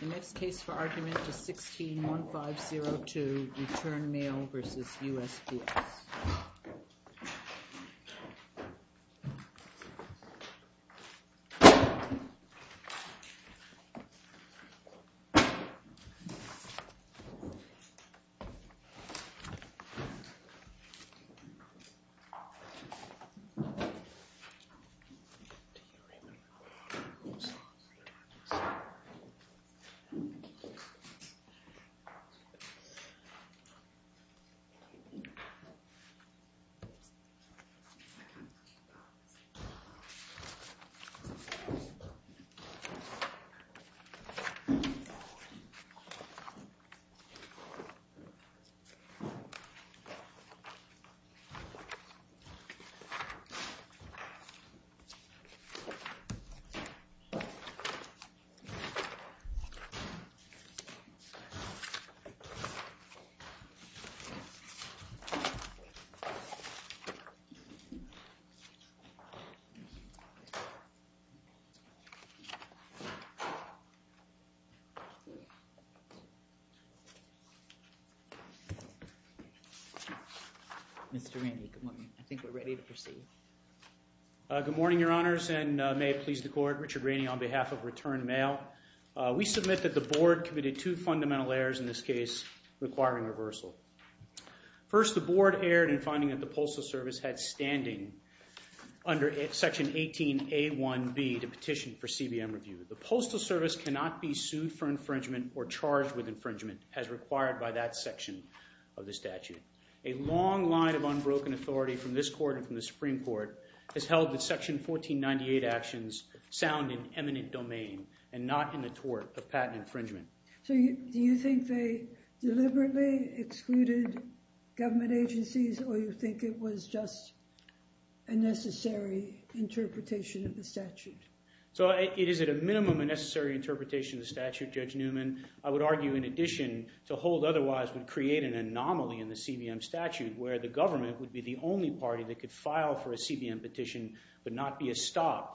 The next case for argument is 16-1502, Return Mail v. USPS. Mr. Rainey, good morning. I think we're ready to proceed. Good morning, Your Honors, and may it please the Court, Richard Rainey on behalf of Return Mail. We submit that the Board committed two fundamental errors in this case requiring reversal. First, the Board erred in finding that the Postal Service had standing under Section 18A1B to petition for CBM review. The Postal Service cannot be sued for infringement or charged with infringement as required by that section of the statute. A long line of unbroken authority from this Court and from the Supreme Court has held that Section 1498 actions sound in eminent domain and not in the tort of patent infringement. So do you think they deliberately excluded government agencies or you think it was just a necessary interpretation of the statute? So it is at a minimum a necessary interpretation of the statute, Judge Newman. I would argue in addition to hold otherwise would create an anomaly in the CBM statute where the government would be the only party that could file for a CBM petition but not be estopped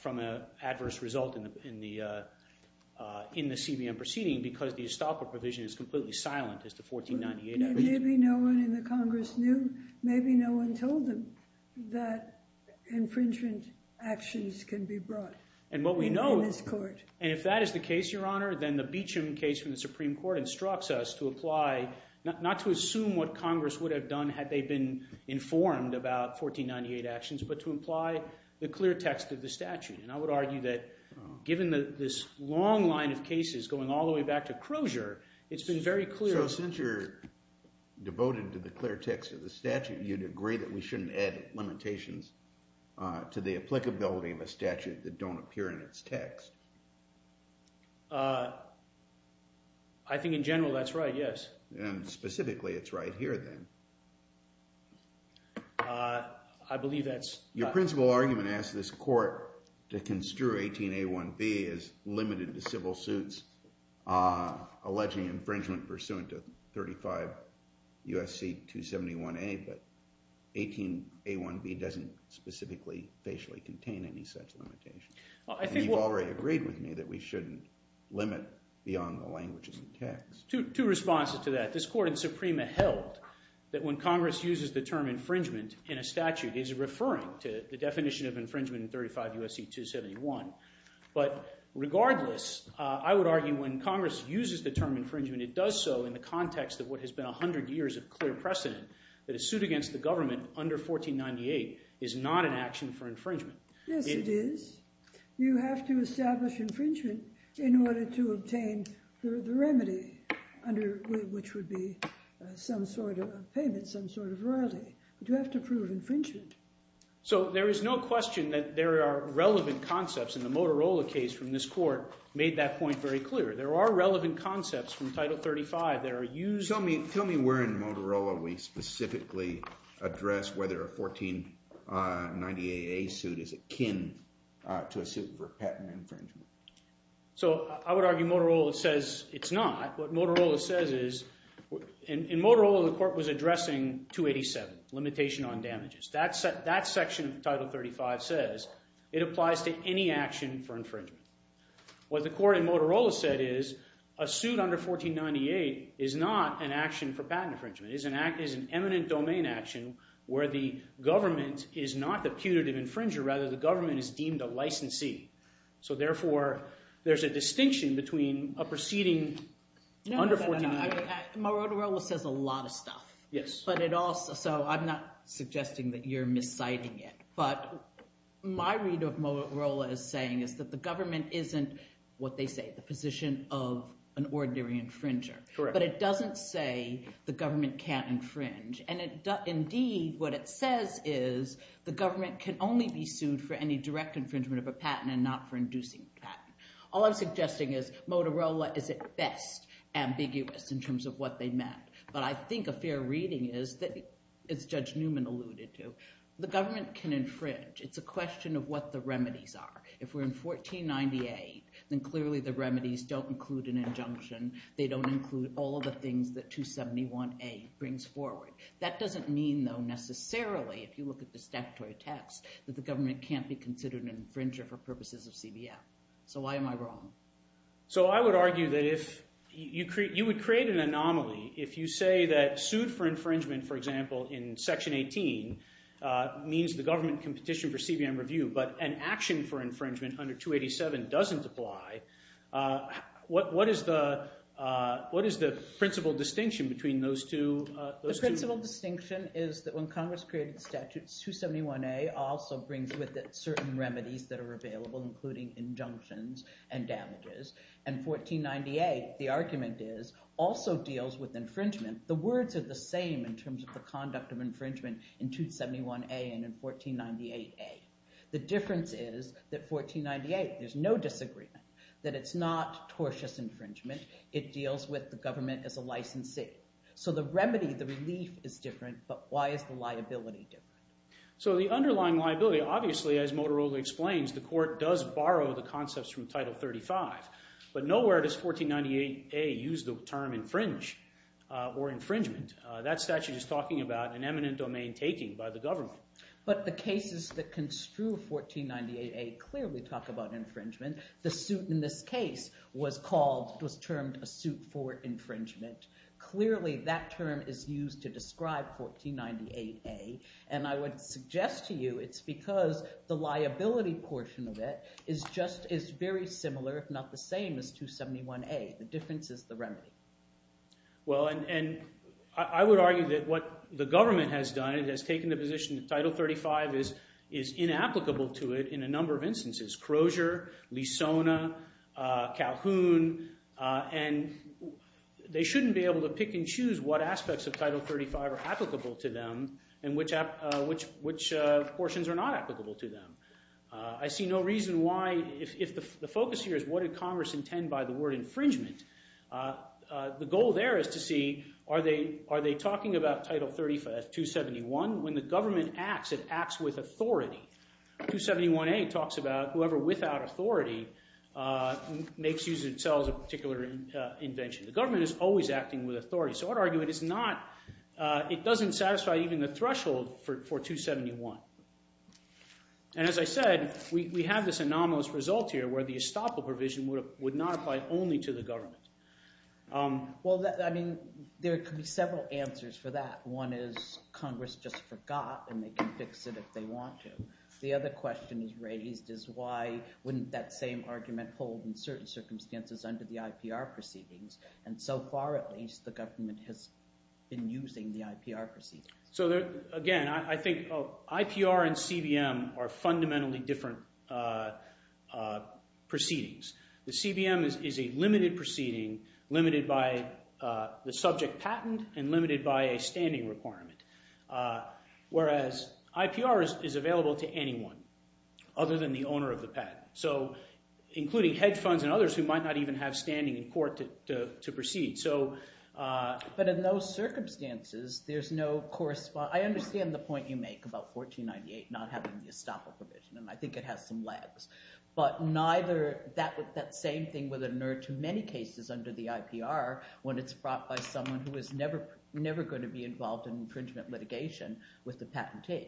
from an adverse result in the CBM proceeding because the estopper provision is completely silent as to 1498 actions. Maybe no one in the Congress knew. Maybe no one told them that infringement actions can be brought in this Court. And what we know, and if that is the case, Your Honor, then the Beecham case from the they've been informed about 1498 actions but to imply the clear text of the statute. And I would argue that given this long line of cases going all the way back to Crozier, it's been very clear. So since you're devoted to the clear text of the statute, you'd agree that we shouldn't add limitations to the applicability of a statute that don't appear in its text? I think in general that's right, yes. And specifically it's right here then. I believe that's... Your principal argument asks this Court to construe 18A1B as limited to civil suits alleging infringement pursuant to 35 U.S.C. 271A, but 18A1B doesn't specifically, facially contain any such limitation. And you've already agreed with me that we shouldn't limit beyond the language of the text. Two responses to that. This Court in Suprema held that when Congress uses the term infringement in a statute, it's referring to the definition of infringement in 35 U.S.C. 271. But regardless, I would argue when Congress uses the term infringement, it does so in the context of what has been 100 years of clear precedent that a suit against the government under 1498 is not an action for infringement. Yes, it is. You have to establish infringement in order to obtain the remedy, which would be some sort of payment, some sort of royalty. But you have to prove infringement. So there is no question that there are relevant concepts, and the Motorola case from this Court made that point very clear. There are relevant concepts from Title 35 that are used... So I would argue Motorola says it's not. What Motorola says is... In Motorola, the Court was addressing 287, limitation on damages. That section of Title 35 says it applies to any action for infringement. What the Court in Motorola said is a suit under 1498 is not an action for patent infringement. It is an eminent domain action where the government is not the putative infringer, rather the licensee. So therefore, there's a distinction between a proceeding under 1498... Motorola says a lot of stuff, so I'm not suggesting that you're misciting it. But my read of Motorola is saying is that the government isn't, what they say, the position of an ordinary infringer, but it doesn't say the government can't infringe. And indeed, what it says is the government can only be sued for any direct infringement of a patent and not for inducing a patent. All I'm suggesting is Motorola is at best ambiguous in terms of what they meant. But I think a fair reading is that, as Judge Newman alluded to, the government can infringe. It's a question of what the remedies are. If we're in 1498, then clearly the remedies don't include an injunction. They don't include all of the things that 271A brings forward. That doesn't mean, though, necessarily, if you look at the statutory text, that the government can't be considered an infringer for purposes of CBM. So why am I wrong? So I would argue that if you would create an anomaly, if you say that sued for infringement, for example, in Section 18 means the government can petition for CBM review, but an action for infringement under 287 doesn't apply, what is the principal distinction between those two? The principal distinction is that when Congress created statutes, 271A also brings with it certain remedies that are available, including injunctions and damages. And 1498, the argument is, also deals with infringement. The words are the same in terms of the conduct of infringement in 271A and in 1498A. The difference is that 1498, there's no disagreement, that it's not tortious infringement. It deals with the government as a licensee. So the remedy, the relief, is different, but why is the liability different? So the underlying liability, obviously, as Motorola explains, the court does borrow the concepts from Title 35, but nowhere does 1498A use the term infringe or infringement. That statute is talking about an eminent domain taking by the government. But the cases that construe 1498A clearly talk about infringement. The suit in this case was called, was termed a suit for infringement. Clearly, that term is used to describe 1498A, and I would suggest to you it's because the liability portion of it is just, is very similar, if not the same, as 271A. The difference is the remedy. Well, and I would argue that what the government has done, it has taken the position that Title 35 is inapplicable to it in a number of instances. Crozier, Lisona, Calhoun, and they shouldn't be able to pick and choose what aspects of Title 35 are applicable to them and which portions are not applicable to them. I see no reason why, if the focus here is what did Congress intend by the word infringement, the goal there is to see, are they talking about Title 371? When the government acts, it acts with authority. 271A talks about whoever without authority makes use of itself as a particular invention. The government is always acting with authority. So I would argue it is not, it doesn't satisfy even the threshold for 271. And as I said, we have this anomalous result here where the estoppel provision would not apply only to the government. Well, I mean, there could be several answers for that. One is Congress just forgot and they can fix it if they want to. The other question is raised is why wouldn't that same argument hold in certain circumstances under the IPR proceedings? And so far, at least, the government has been using the IPR proceedings. So again, I think IPR and CBM are fundamentally different proceedings. The CBM is a limited proceeding, limited by the subject patent and limited by a standing requirement, whereas IPR is available to anyone other than the owner of the patent. So, including hedge funds and others who might not even have standing in court to proceed. So... But in those circumstances, there's no correspond... I understand the point you make about 1498 not having the estoppel provision, and I think it has some lags. But neither that same thing would inert to many cases under the IPR when it's brought by someone who is never going to be involved in infringement litigation with the patentee.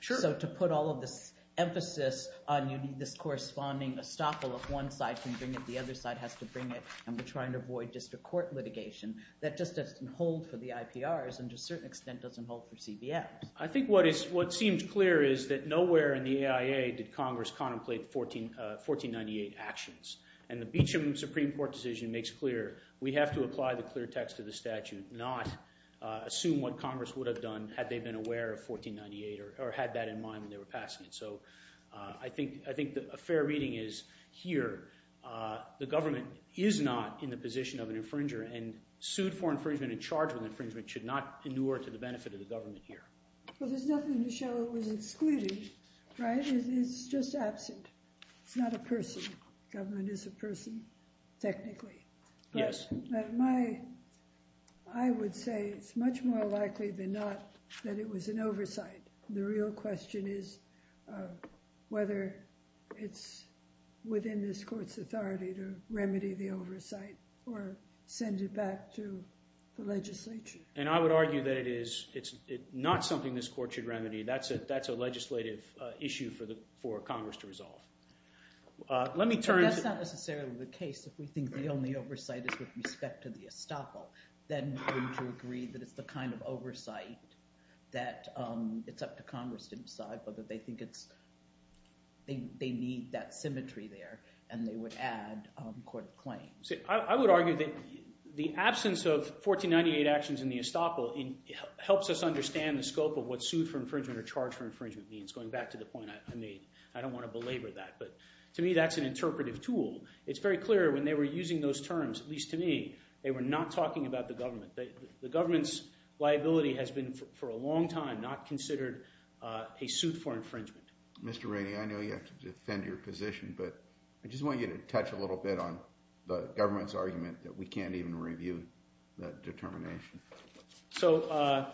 Sure. So to put all of this emphasis on you need this corresponding estoppel if one side can bring it, the other side has to bring it, and we're trying to avoid district court litigation. That just doesn't hold for the IPRs and to a certain extent doesn't hold for CBMs. I think what seems clear is that nowhere in the AIA did Congress contemplate 1498 actions. And the Beecham Supreme Court decision makes clear we have to apply the clear text of the statute, not assume what Congress would have done had they been aware of 1498 or had that in mind when they were passing it. So I think a fair reading is here, the government is not in the position of an infringer and sued for infringement and charged with infringement should not inure to the benefit of the government here. Well, there's nothing to show it was excluded, right? It's just absent. It's not a person. The government is a person, technically. Yes. But my, I would say it's much more likely than not that it was an oversight. The real question is whether it's within this court's authority to remedy the oversight or send it back to the legislature. And I would argue that it is, it's not something this court should remedy. That's a legislative issue for Congress to resolve. Let me turn to- That's not necessarily the case. If we think the only oversight is with respect to the estoppel, then wouldn't you agree that it's the kind of oversight that it's up to Congress to decide whether they think it's, they need that symmetry there and they would add court of claims. I would argue that the absence of 1498 actions in the estoppel helps us understand the scope of what sued for infringement or charged for infringement means, going back to the point I made. I don't want to belabor that, but to me that's an interpretive tool. It's very clear when they were using those terms, at least to me, they were not talking about the government. The government's liability has been for a long time not considered a suit for infringement. Mr. Rainey, I know you have to defend your position, but I just want you to touch a little bit on the government's argument that we can't even review that determination. So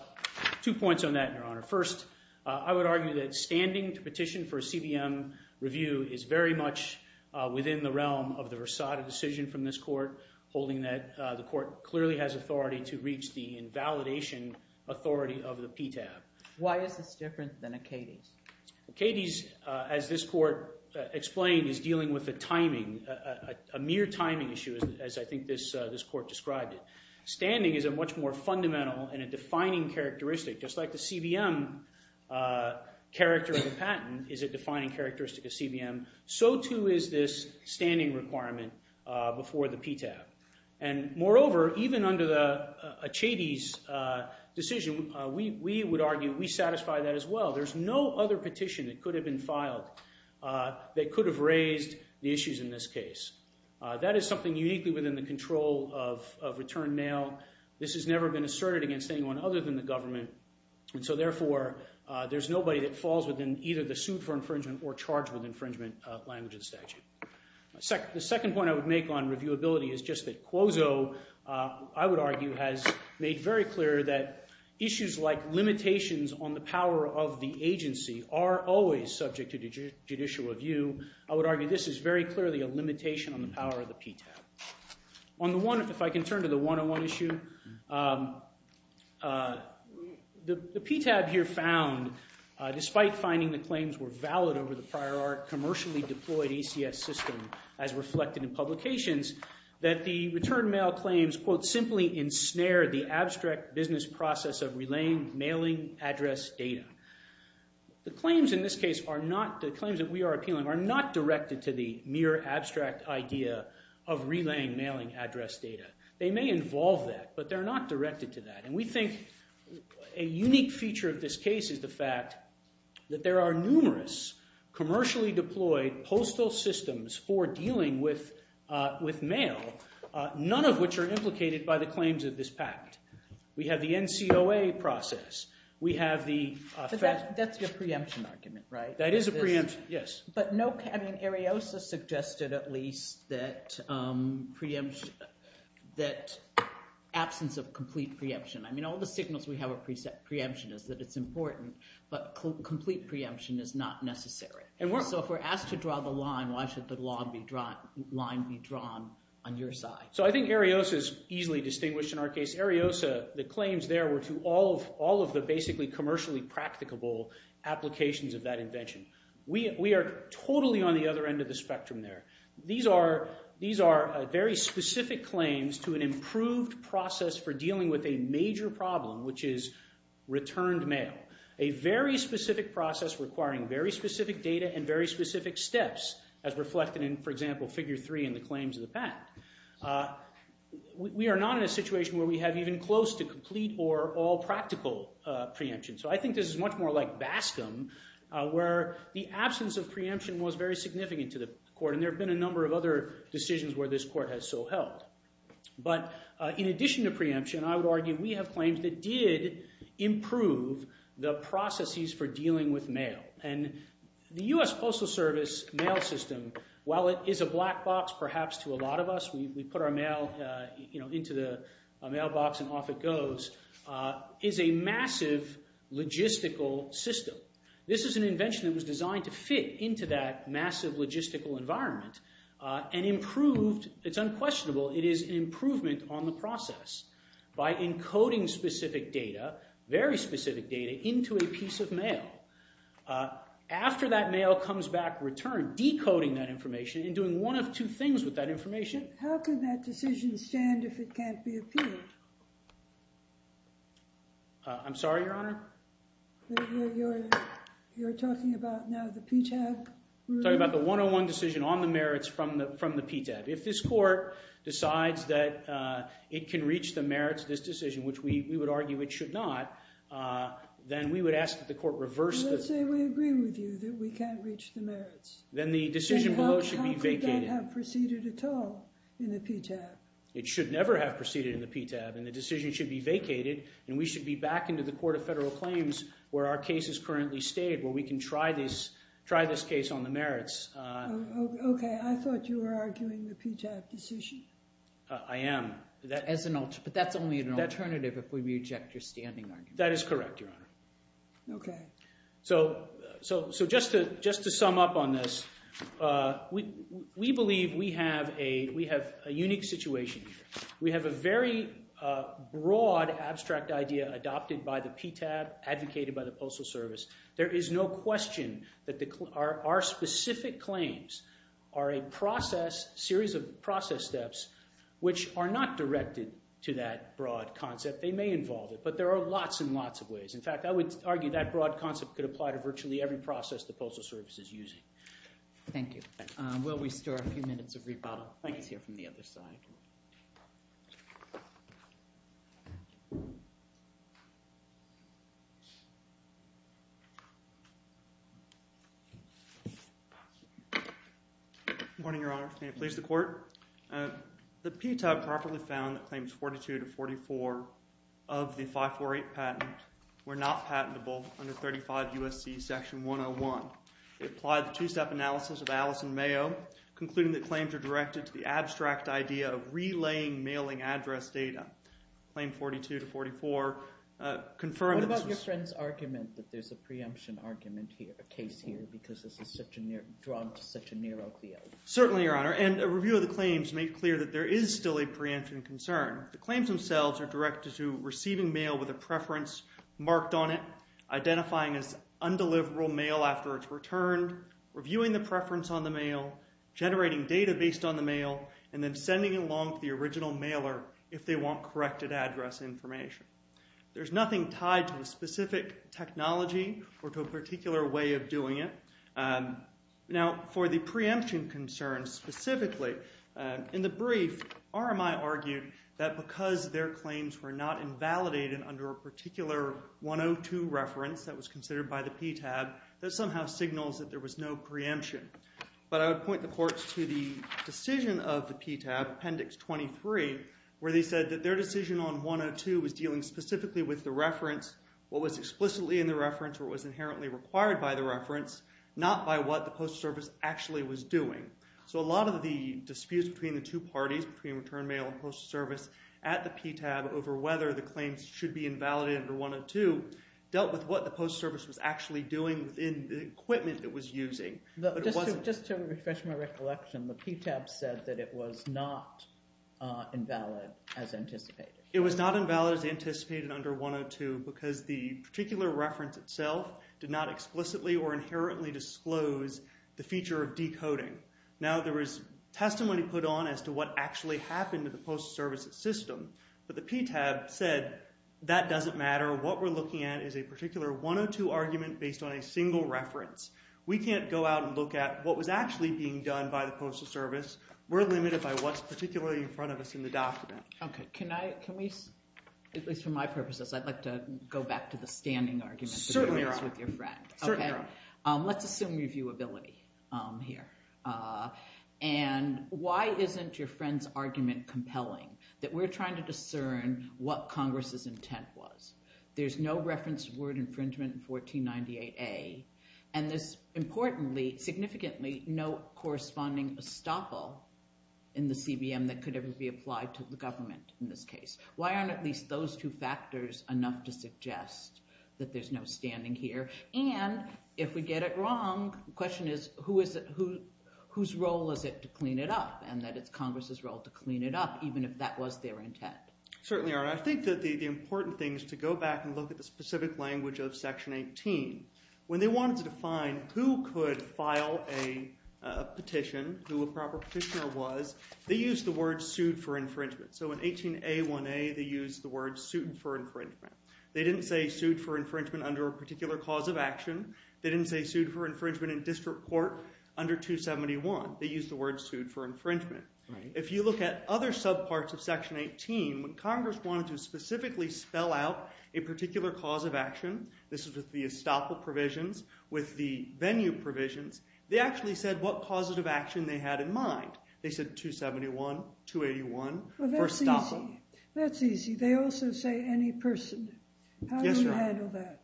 two points on that, Your Honor. First, I would argue that standing to petition for a CBM review is very much within the realm of the Versada decision from this court, holding that the court clearly has authority to reach the invalidation authority of the PTAB. Why is this different than Acadie's? Acadie's, as this court explained, is dealing with a timing, a mere timing issue, as I think this court described it. Standing is a much more fundamental and a defining characteristic, just like the CBM character of the patent is a defining characteristic of CBM, so too is this standing requirement before the PTAB. And moreover, even under the Acadie's decision, we would argue we satisfy that as well. There's no other petition that could have been filed that could have raised the issues in this case. That is something uniquely within the control of return mail. This has never been asserted against anyone other than the government, and so therefore there's nobody that falls within either the sued for infringement or charged with infringement language of the statute. The second point I would make on reviewability is just that Quozo, I would argue, has made very clear that issues like limitations on the power of the agency are always subject to judicial review. I would argue this is very clearly a limitation on the power of the PTAB. On the one, if I can turn to the 101 issue, the PTAB here found, despite finding the claims were valid over the prior art commercially deployed ECS system as reflected in publications, that the return mail claims, quote, simply ensnared the abstract business process of relaying mailing address data. The claims in this case are not, the claims that we are appealing are not directed to the mere abstract idea of relaying mailing address data. They may involve that, but they're not directed to that. We think a unique feature of this case is the fact that there are numerous commercially deployed postal systems for dealing with mail, none of which are implicated by the claims of this pact. We have the NCOA process. We have the fact- So that's your preemption argument, right? That is a preemption, yes. But no, I mean, Ariosa suggested at least that absence of complete preemption. I mean, all the signals we have of preemption is that it's important, but complete preemption is not necessary. So if we're asked to draw the line, why should the line be drawn on your side? So I think Ariosa is easily distinguished in our case. Ariosa, the claims there were to all of the basically commercially practicable applications of that invention. We are totally on the other end of the spectrum there. These are very specific claims to an improved process for dealing with a major problem, which is returned mail, a very specific process requiring very specific data and very specific steps as reflected in, for example, figure three in the claims of the pact. We are not in a situation where we have even close to complete or all practical preemption. So I think this is much more like Bascom, where the absence of preemption was very significant to the court. And there have been a number of other decisions where this court has so held. But in addition to preemption, I would argue we have claims that did improve the processes for dealing with mail. And the U.S. Postal Service mail system, while it is a black box perhaps to a lot of us, we put our mail into the mailbox and off it goes, is a massive logistical system. This is an invention that was designed to fit into that massive logistical environment and improved. It's unquestionable. It is an improvement on the process by encoding specific data, very specific data into a piece of mail. After that mail comes back returned, decoding that information and doing one of two things with that information. How can that decision stand if it can't be appealed? I'm sorry, Your Honor? You're talking about now the PTAB rule? I'm talking about the 101 decision on the merits from the PTAB. If this court decides that it can reach the merits of this decision, which we would argue it should not, then we would ask that the court reverse the... Let's say we agree with you that we can't reach the merits. Then how could that have proceeded at all in the PTAB? It should never have proceeded in the PTAB. And the decision should be vacated and we should be back into the court of federal claims where our case is currently stated, where we can try this case on the merits. Okay, I thought you were arguing the PTAB decision. I am. But that's only an alternative if we reject your standing argument. That is correct, Your Honor. So just to sum up on this, we believe we have a unique situation here. We have a very broad abstract idea adopted by the PTAB, advocated by the Postal Service. There is no question that our specific claims are a process, series of process steps, which are not directed to that broad concept. They may involve it, but there are lots and lots of ways. In fact, I would argue that broad concept could apply to virtually every process the Postal Service is using. Thank you. We'll restore a few minutes of rebuttal. Let's hear from the other side. Good morning, Your Honor. May it please the court? The PTAB properly found that Claims 42 to 44 of the 548 patent were not patentable under 35 U.S.C. Section 101. They applied the two-step analysis of Alice and Mayo, concluding that claims are directed to the abstract idea of relaying mailing address data. Claim 42 to 44 confirmed that this was... What about your friend's argument that there's a preemption argument here, a case here, because this is such a near, drawn to such a near opioid? Certainly, Your Honor, and a review of the claims made clear that there is still a preemption concern. The claims themselves are directed to receiving mail with a preference marked on it, identifying as undeliverable mail after it's returned, reviewing the preference on the mail, generating data based on the mail, and then sending it along to the original mailer if they want corrected address information. There's nothing tied to a specific technology or to a particular way of doing it. Now, for the preemption concern specifically, in the brief, RMI argued that because their claims were not invalidated under a particular 102 reference that was considered by the PTAB, that somehow signals that there was no preemption. But I would point the courts to the decision of the PTAB, Appendix 23, where they said that their decision on 102 was dealing specifically with the reference, what was explicitly in the reference, not by what the Postal Service actually was doing. So a lot of the disputes between the two parties, between return mail and Postal Service, at the PTAB over whether the claims should be invalidated under 102 dealt with what the Postal Service was actually doing within the equipment it was using. Just to refresh my recollection, the PTAB said that it was not invalid as anticipated. It was not invalid as anticipated under 102 because the particular reference itself did not explicitly or inherently disclose the feature of decoding. Now there was testimony put on as to what actually happened to the Postal Service's system, but the PTAB said that doesn't matter. What we're looking at is a particular 102 argument based on a single reference. We can't go out and look at what was actually being done by the Postal Service. We're limited by what's particularly in front of us in the document. Okay. Can I, can we, at least for my purposes, I'd like to go back to the standing argument with your friend. Certainly. Okay. Let's assume reviewability here. And why isn't your friend's argument compelling? That we're trying to discern what Congress's intent was. There's no reference to word infringement in 1498A, and there's importantly, significantly, no corresponding estoppel in the CBM that could ever be applied to the government in this case. Why aren't at least those two factors enough to suggest that there's no standing here? And if we get it wrong, the question is, who is it, whose role is it to clean it up? And that it's Congress's role to clean it up, even if that was their intent. Certainly, Your Honor. I think that the important thing is to go back and look at the specific language of Section 18. When they wanted to define who could file a petition, who a proper petitioner was, they used the word sued for infringement. So in 18A1A, they used the word sued for infringement. They didn't say sued for infringement under a particular cause of action. They didn't say sued for infringement in district court under 271. They used the word sued for infringement. If you look at other subparts of Section 18, when Congress wanted to specifically spell out a particular cause of action, this is with the estoppel provisions, with the venue provisions, they actually said what causes of action they had in mind. They said 271, 281, for estoppel. Well, that's easy. That's easy. They also say any person. Yes, Your Honor. How do you handle that?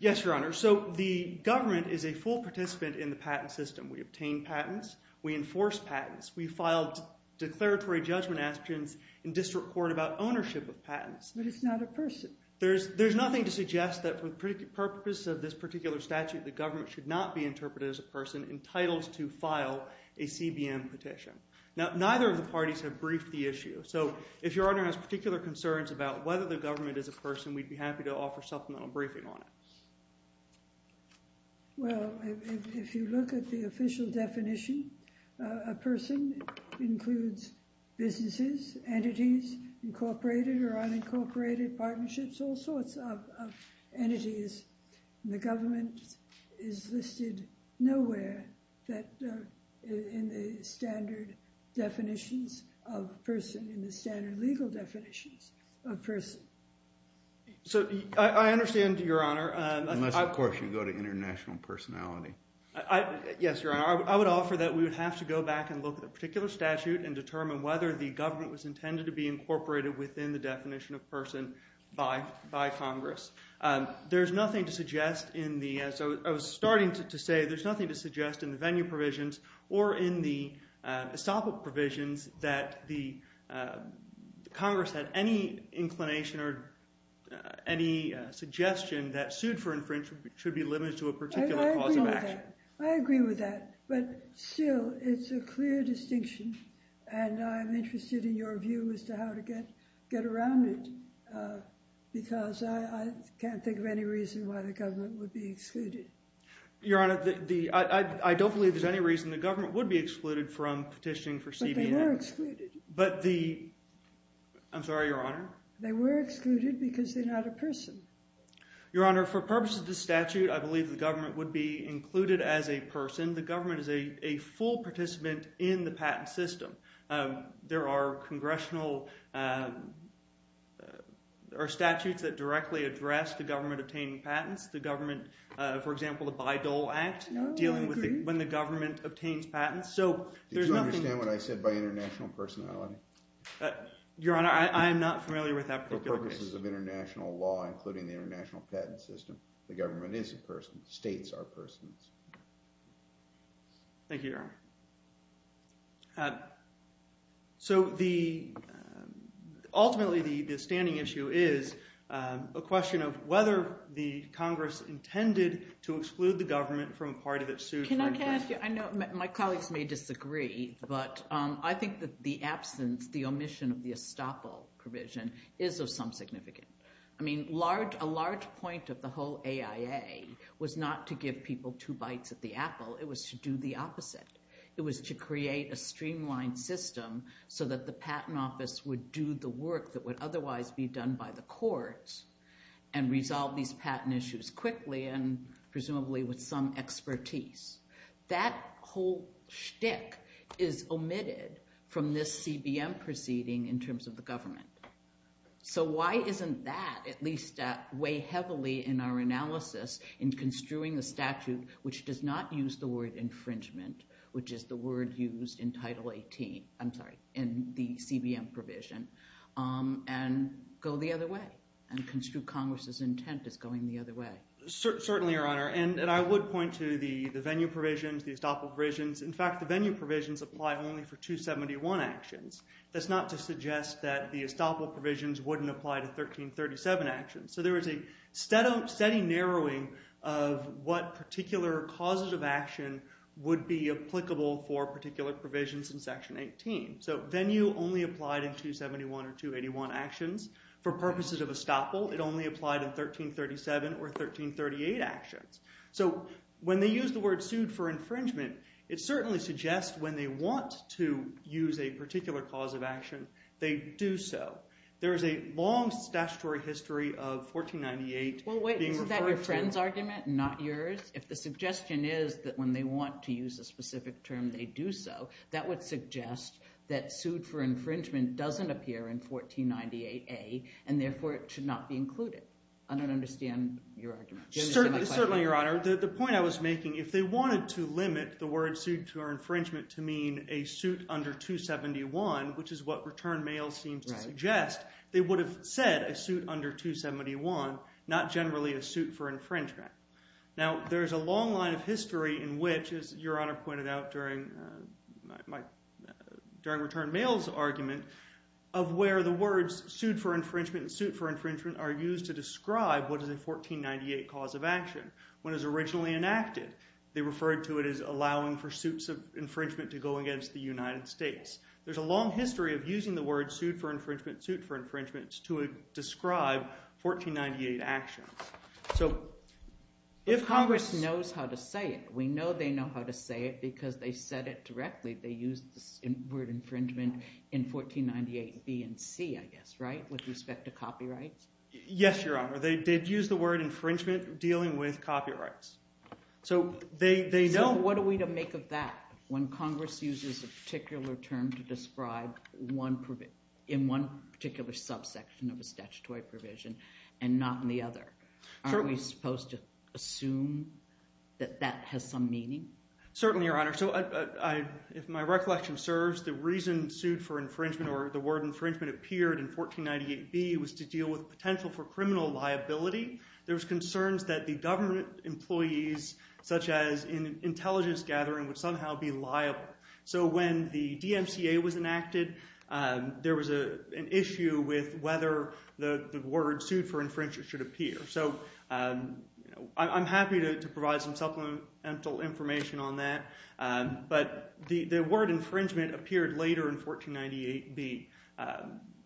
Yes, Your Honor. So the government is a full participant in the patent system. We obtain patents. We enforce patents. We filed declaratory judgment aspirations in district court about ownership of patents. But it's not a person. There's nothing to suggest that for the purpose of this particular statute, the government should not be interpreted as a person entitled to file a CBM petition. Now, neither of the parties have briefed the issue. So if Your Honor has particular concerns about whether the government is a person, we'd be happy to offer supplemental briefing on it. Well, if you look at the official definition, a person includes businesses, entities, incorporated or unincorporated partnerships, all sorts of entities. The government is listed nowhere in the standard definitions of person, in the standard legal definitions of person. So I understand, Your Honor. Unless, of course, you go to international personality. Yes, Your Honor. I would offer that we would have to go back and look at a particular statute and determine whether the government was intended to be incorporated within the definition of person by Congress. There's nothing to suggest in the, as I was starting to say, there's nothing to suggest in the venue provisions or in the estoppel provisions that the Congress had any inclination or any suggestion that sued for infringement should be limited to a particular cause of action. I agree with that. But still, it's a clear distinction, and I'm interested in your view as to how to get around it because I can't think of any reason why the government would be excluded. Your Honor, I don't believe there's any reason the government would be excluded from petitioning for CBN. But they were excluded. But the, I'm sorry, Your Honor? They were excluded because they're not a person. Your Honor, for purposes of the statute, I believe the government would be included as a person. The government is a full participant in the patent system. There are congressional, there are statutes that directly address the government obtaining patents. The government, for example, the Bayh-Dole Act, dealing with when the government obtains patents. So there's nothing. Did you understand what I said by international personality? Your Honor, I am not familiar with that particular case. For purposes of international law, including the international patent system, the government is a person. States are persons. Thank you, Your Honor. So the, ultimately, the standing issue is a question of whether the Congress intended to exclude the government from a party that sued. Can I ask you, I know my colleagues may disagree, but I think that the absence, the omission of the estoppel provision is of some significance. I mean, a large point of the whole AIA was not to give people two bites at the apple. It was to do the opposite. It was to create a streamlined system so that the patent office would do the work that would otherwise be done by the courts and resolve these patent issues quickly and presumably with some expertise. That whole shtick is omitted from this CBM proceeding in terms of the government. So why isn't that, at least way heavily in our analysis, in construing a statute which does not use the word infringement, which is the word used in Title 18, I'm sorry, in the CBM provision, and go the other way? And construe Congress's intent as going the other way? Certainly, Your Honor. And I would point to the venue provisions, the estoppel provisions. In fact, the venue provisions apply only for 271 actions. That's not to suggest that the estoppel provisions wouldn't apply to 1337 actions. So there is a steady narrowing of what particular causes of action would be applicable for particular provisions in Section 18. So venue only applied in 271 or 281 actions. For purposes of estoppel, it only applied in 1337 or 1338 actions. So when they use the word sued for infringement, it certainly suggests when they want to use a particular cause of action, they do so. There is a long statutory history of 1498 being referred to. Well, wait, isn't that your friend's argument and not yours? If the suggestion is that when they want to use a specific term, they do so, that would suggest that sued for infringement doesn't appear in 1498A, and therefore it should not be included. I don't understand your argument. Certainly, Your Honor. The point I was making, if they wanted to limit the word sued for infringement to mean a suit under 271, which is what Return Mail seems to suggest, they would have said a suit under 271, not generally a suit for infringement. Now there is a long line of history in which, as Your Honor pointed out during Return Mail's argument, of where the words sued for infringement and suit for infringement are used to describe what is a 1498 cause of action. When it was originally enacted, they referred to it as allowing for suits of infringement to go against the United States. There's a long history of using the words sued for infringement, suit for infringement to describe 1498 actions. So if Congress— But Congress knows how to say it. We know they know how to say it because they said it directly. They used the word infringement in 1498B and C, I guess, right, with respect to copyrights? Yes, Your Honor. They did use the word infringement dealing with copyrights. So they know— in one particular subsection of a statutory provision and not in the other. Aren't we supposed to assume that that has some meaning? Certainly, Your Honor. So if my recollection serves, the reason sued for infringement or the word infringement appeared in 1498B was to deal with potential for criminal liability. There was concerns that the government employees, such as in an intelligence gathering, would somehow be liable. So when the DMCA was enacted, there was an issue with whether the word sued for infringement should appear. So I'm happy to provide some supplemental information on that. But the word infringement appeared later in 1498B.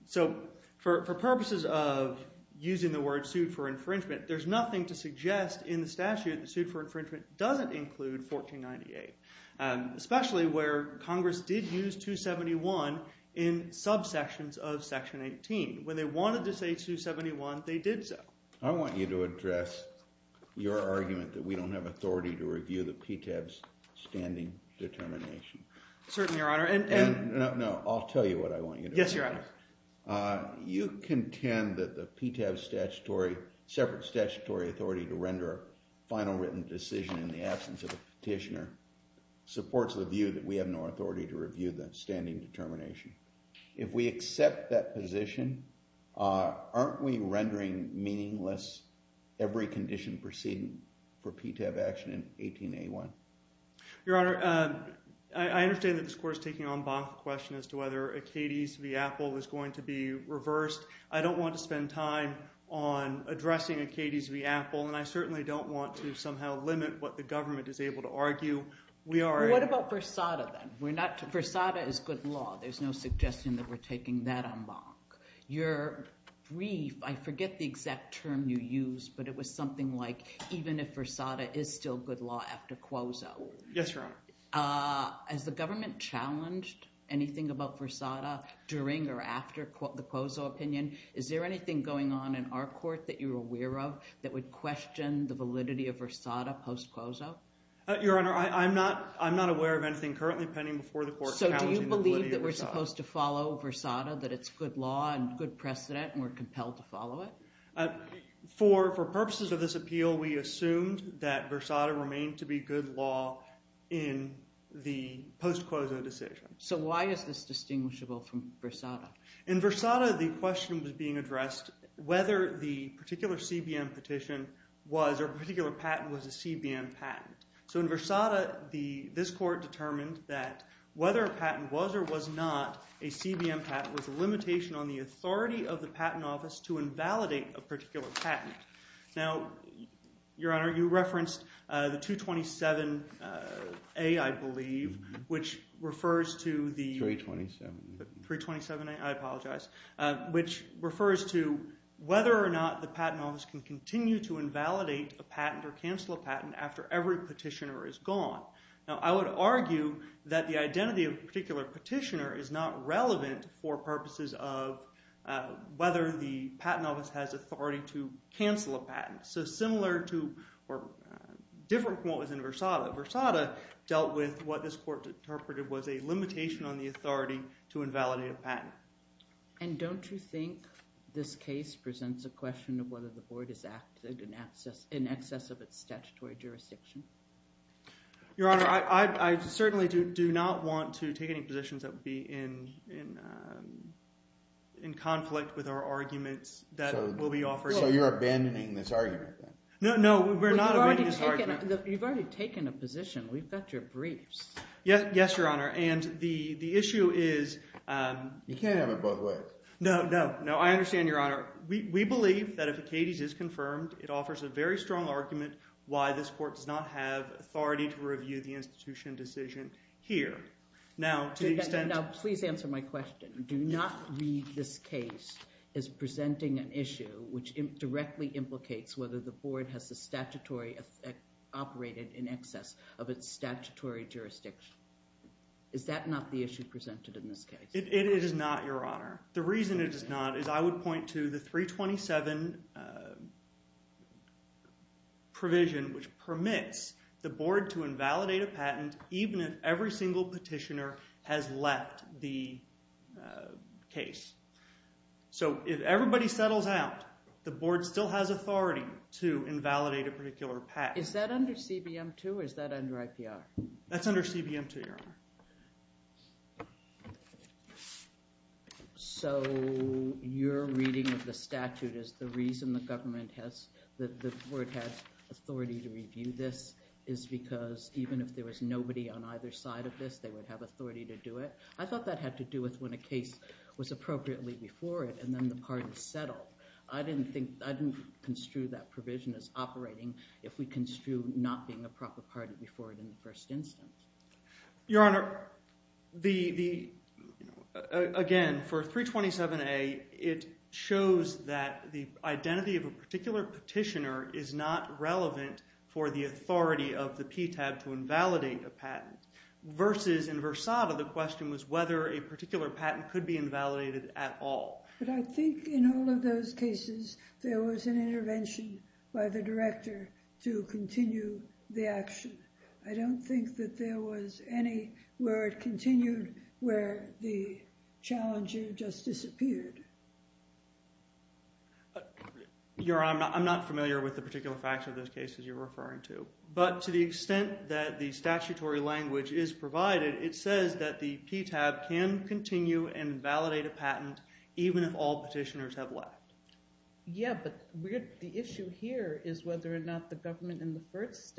So for purposes of using the word sued for infringement, there's nothing to suggest in the statute that sued for infringement doesn't include 1498, especially where Congress did use 271 in subsections of Section 18. When they wanted to say 271, they did so. I want you to address your argument that we don't have authority to review the PTAB's standing determination. Certainly, Your Honor. And— No, I'll tell you what I want you to do. Yes, Your Honor. You contend that the PTAB's separate statutory authority to render a final written decision in the absence of a petitioner supports the view that we have no authority to review the standing determination. If we accept that position, aren't we rendering meaningless every condition proceeding for PTAB action in 18A1? Your Honor, I understand that this Court is taking on both questions as to whether Acades v. Apple is going to be reversed. I don't want to spend time on addressing Acades v. Apple, and I certainly don't want to somehow limit what the government is able to argue. We are— What about Versada, then? Versada is good law. There's no suggestion that we're taking that en banc. Your brief—I forget the exact term you used, but it was something like, even if Versada is still good law after Cuozo. Yes, Your Honor. Has the government challenged anything about Versada during or after the Cuozo opinion? Is there anything going on in our court that you're aware of that would question the validity of Versada post-Cuozo? Your Honor, I'm not aware of anything currently pending before the Court challenging the validity of Versada. So do you believe that we're supposed to follow Versada, that it's good law and good precedent and we're compelled to follow it? For purposes of this appeal, we assumed that Versada remained to be good law in the post-Cuozo decision. So why is this distinguishable from Versada? In Versada, the question was being addressed whether the particular CBM petition was, or the particular patent was a CBM patent. So in Versada, this Court determined that whether a patent was or was not a CBM patent was a limitation on the authority of the Patent Office to invalidate a particular patent. Now, Your Honor, you referenced the 227A, I believe, which refers to the— 327A. 327A, I apologize, which refers to whether or not the Patent Office can continue to invalidate a patent or cancel a patent after every petitioner is gone. Now, I would argue that the identity of a particular petitioner is not relevant for purposes of whether the Patent Office has authority to cancel a patent. So similar to—or different from what was in Versada. Versada dealt with what this Court interpreted was a limitation on the authority to invalidate a patent. And don't you think this case presents a question of whether the Board has acted in excess of its statutory jurisdiction? Your Honor, I certainly do not want to take any positions that would be in conflict with our arguments that will be offered. So you're abandoning this argument, then? No, no, we're not abandoning this argument. You've already taken a position. We've got your briefs. Yes, Your Honor. And the issue is— You can't have it both ways. No, no. No, I understand, Your Honor. We believe that if Acades is confirmed, it offers a very strong argument why this Court does not have authority to review the institution decision here. Now, to the extent— Now, please answer my question. Do not read this case as presenting an issue which directly implicates whether the Board has a statutory—operated in excess of its statutory jurisdiction. Is that not the issue presented in this case? It is not, Your Honor. The reason it is not is I would point to the 327 provision, which permits the Board to invalidate a patent even if every single petitioner has left the case. So if everybody settles out, the Board still has authority to invalidate a particular patent. Is that under CBM 2 or is that under IPR? That's under CBM 2, Your Honor. So your reading of the statute is the reason the Government has—the Board has authority to review this is because even if there was nobody on either side of this, they would have authority to do it? I thought that had to do with when a case was appropriately before it and then the parties settled. I didn't think—I didn't construe that provision as operating if we construe not being a proper party before it in the first instance. Your Honor, the—again, for 327A, it shows that the identity of a particular petitioner is not relevant for the authority of the PTAB to invalidate a patent versus in Versada, the question was whether a particular patent could be invalidated at all. But I think in all of those cases, there was an intervention by the Director to continue the action. I don't think that there was any where it continued where the challenger just disappeared. Your Honor, I'm not familiar with the particular facts of those cases you're referring to. But to the extent that the statutory language is provided, it says that the PTAB can continue and validate a patent even if all petitioners have left. Yeah, but the issue here is whether or not the government in the first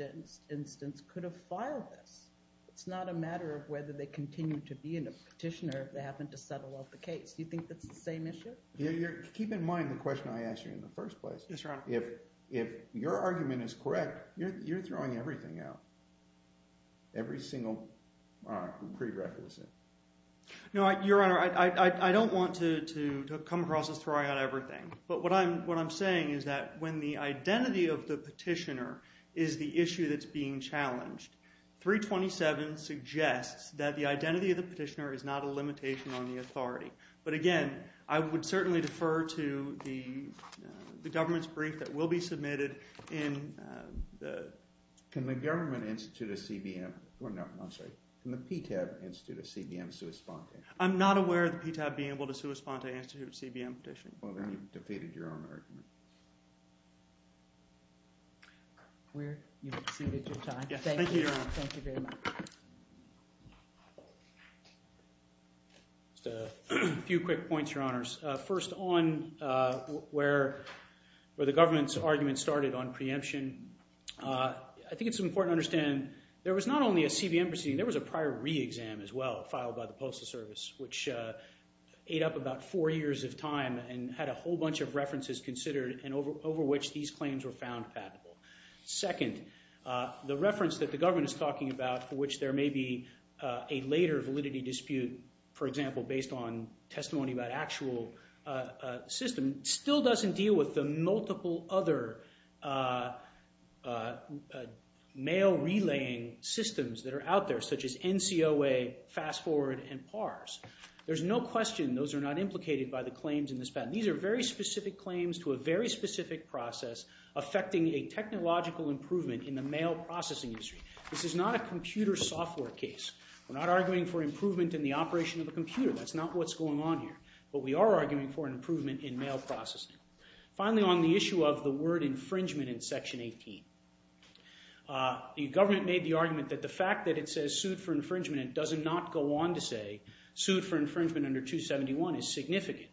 instance could have filed this. It's not a matter of whether they continue to be a petitioner if they happen to settle off the case. Do you think that's the same issue? Keep in mind the question I asked you in the first place. Yes, Your Honor. If your argument is correct, you're throwing everything out, every single prerequisite. No, Your Honor. I don't want to come across as throwing out everything. But what I'm saying is that when the identity of the petitioner is the issue that's being challenged, 327 suggests that the identity of the petitioner is not a limitation on the authority. But again, I would certainly defer to the government's brief that will be submitted in the… I'm not aware of the PTAB being able to suspend the answer to a CBM petition. Well, then you've defeated your own argument. We're… You've exceeded your time. Thank you, Your Honor. Thank you very much. Just a few quick points, Your Honors. First, on where the government's argument started on preemption, I think it's important to understand there was not only a CBM proceeding, there was a prior re-exam as well. Filed by the Postal Service, which ate up about four years of time and had a whole bunch of references considered, and over which these claims were found patentable. Second, the reference that the government is talking about, for which there may be a later validity dispute, for example, based on testimony about actual system, still doesn't deal with the multiple other mail relaying systems that are out there, such as NCOA, Fast Forward, and PARS. There's no question those are not implicated by the claims in this patent. These are very specific claims to a very specific process affecting a technological improvement in the mail processing industry. This is not a computer software case. We're not arguing for improvement in the operation of a computer. That's not what's going on here. But we are arguing for an improvement in mail processing. Finally, on the issue of the word infringement in Section 18, the government made the argument that the fact that it says sued for infringement and does not go on to say sued for infringement under 271 is significant.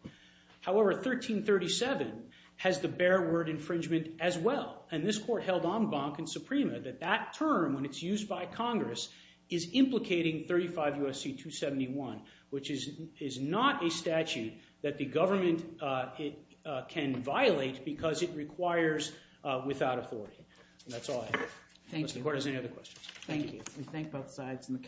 However, 1337 has the bare word infringement as well. And this court held en banc and suprema that that term, when it's used by Congress, is that the government can violate because it requires without authority. And that's all I have. Unless the court has any other questions. Thank you.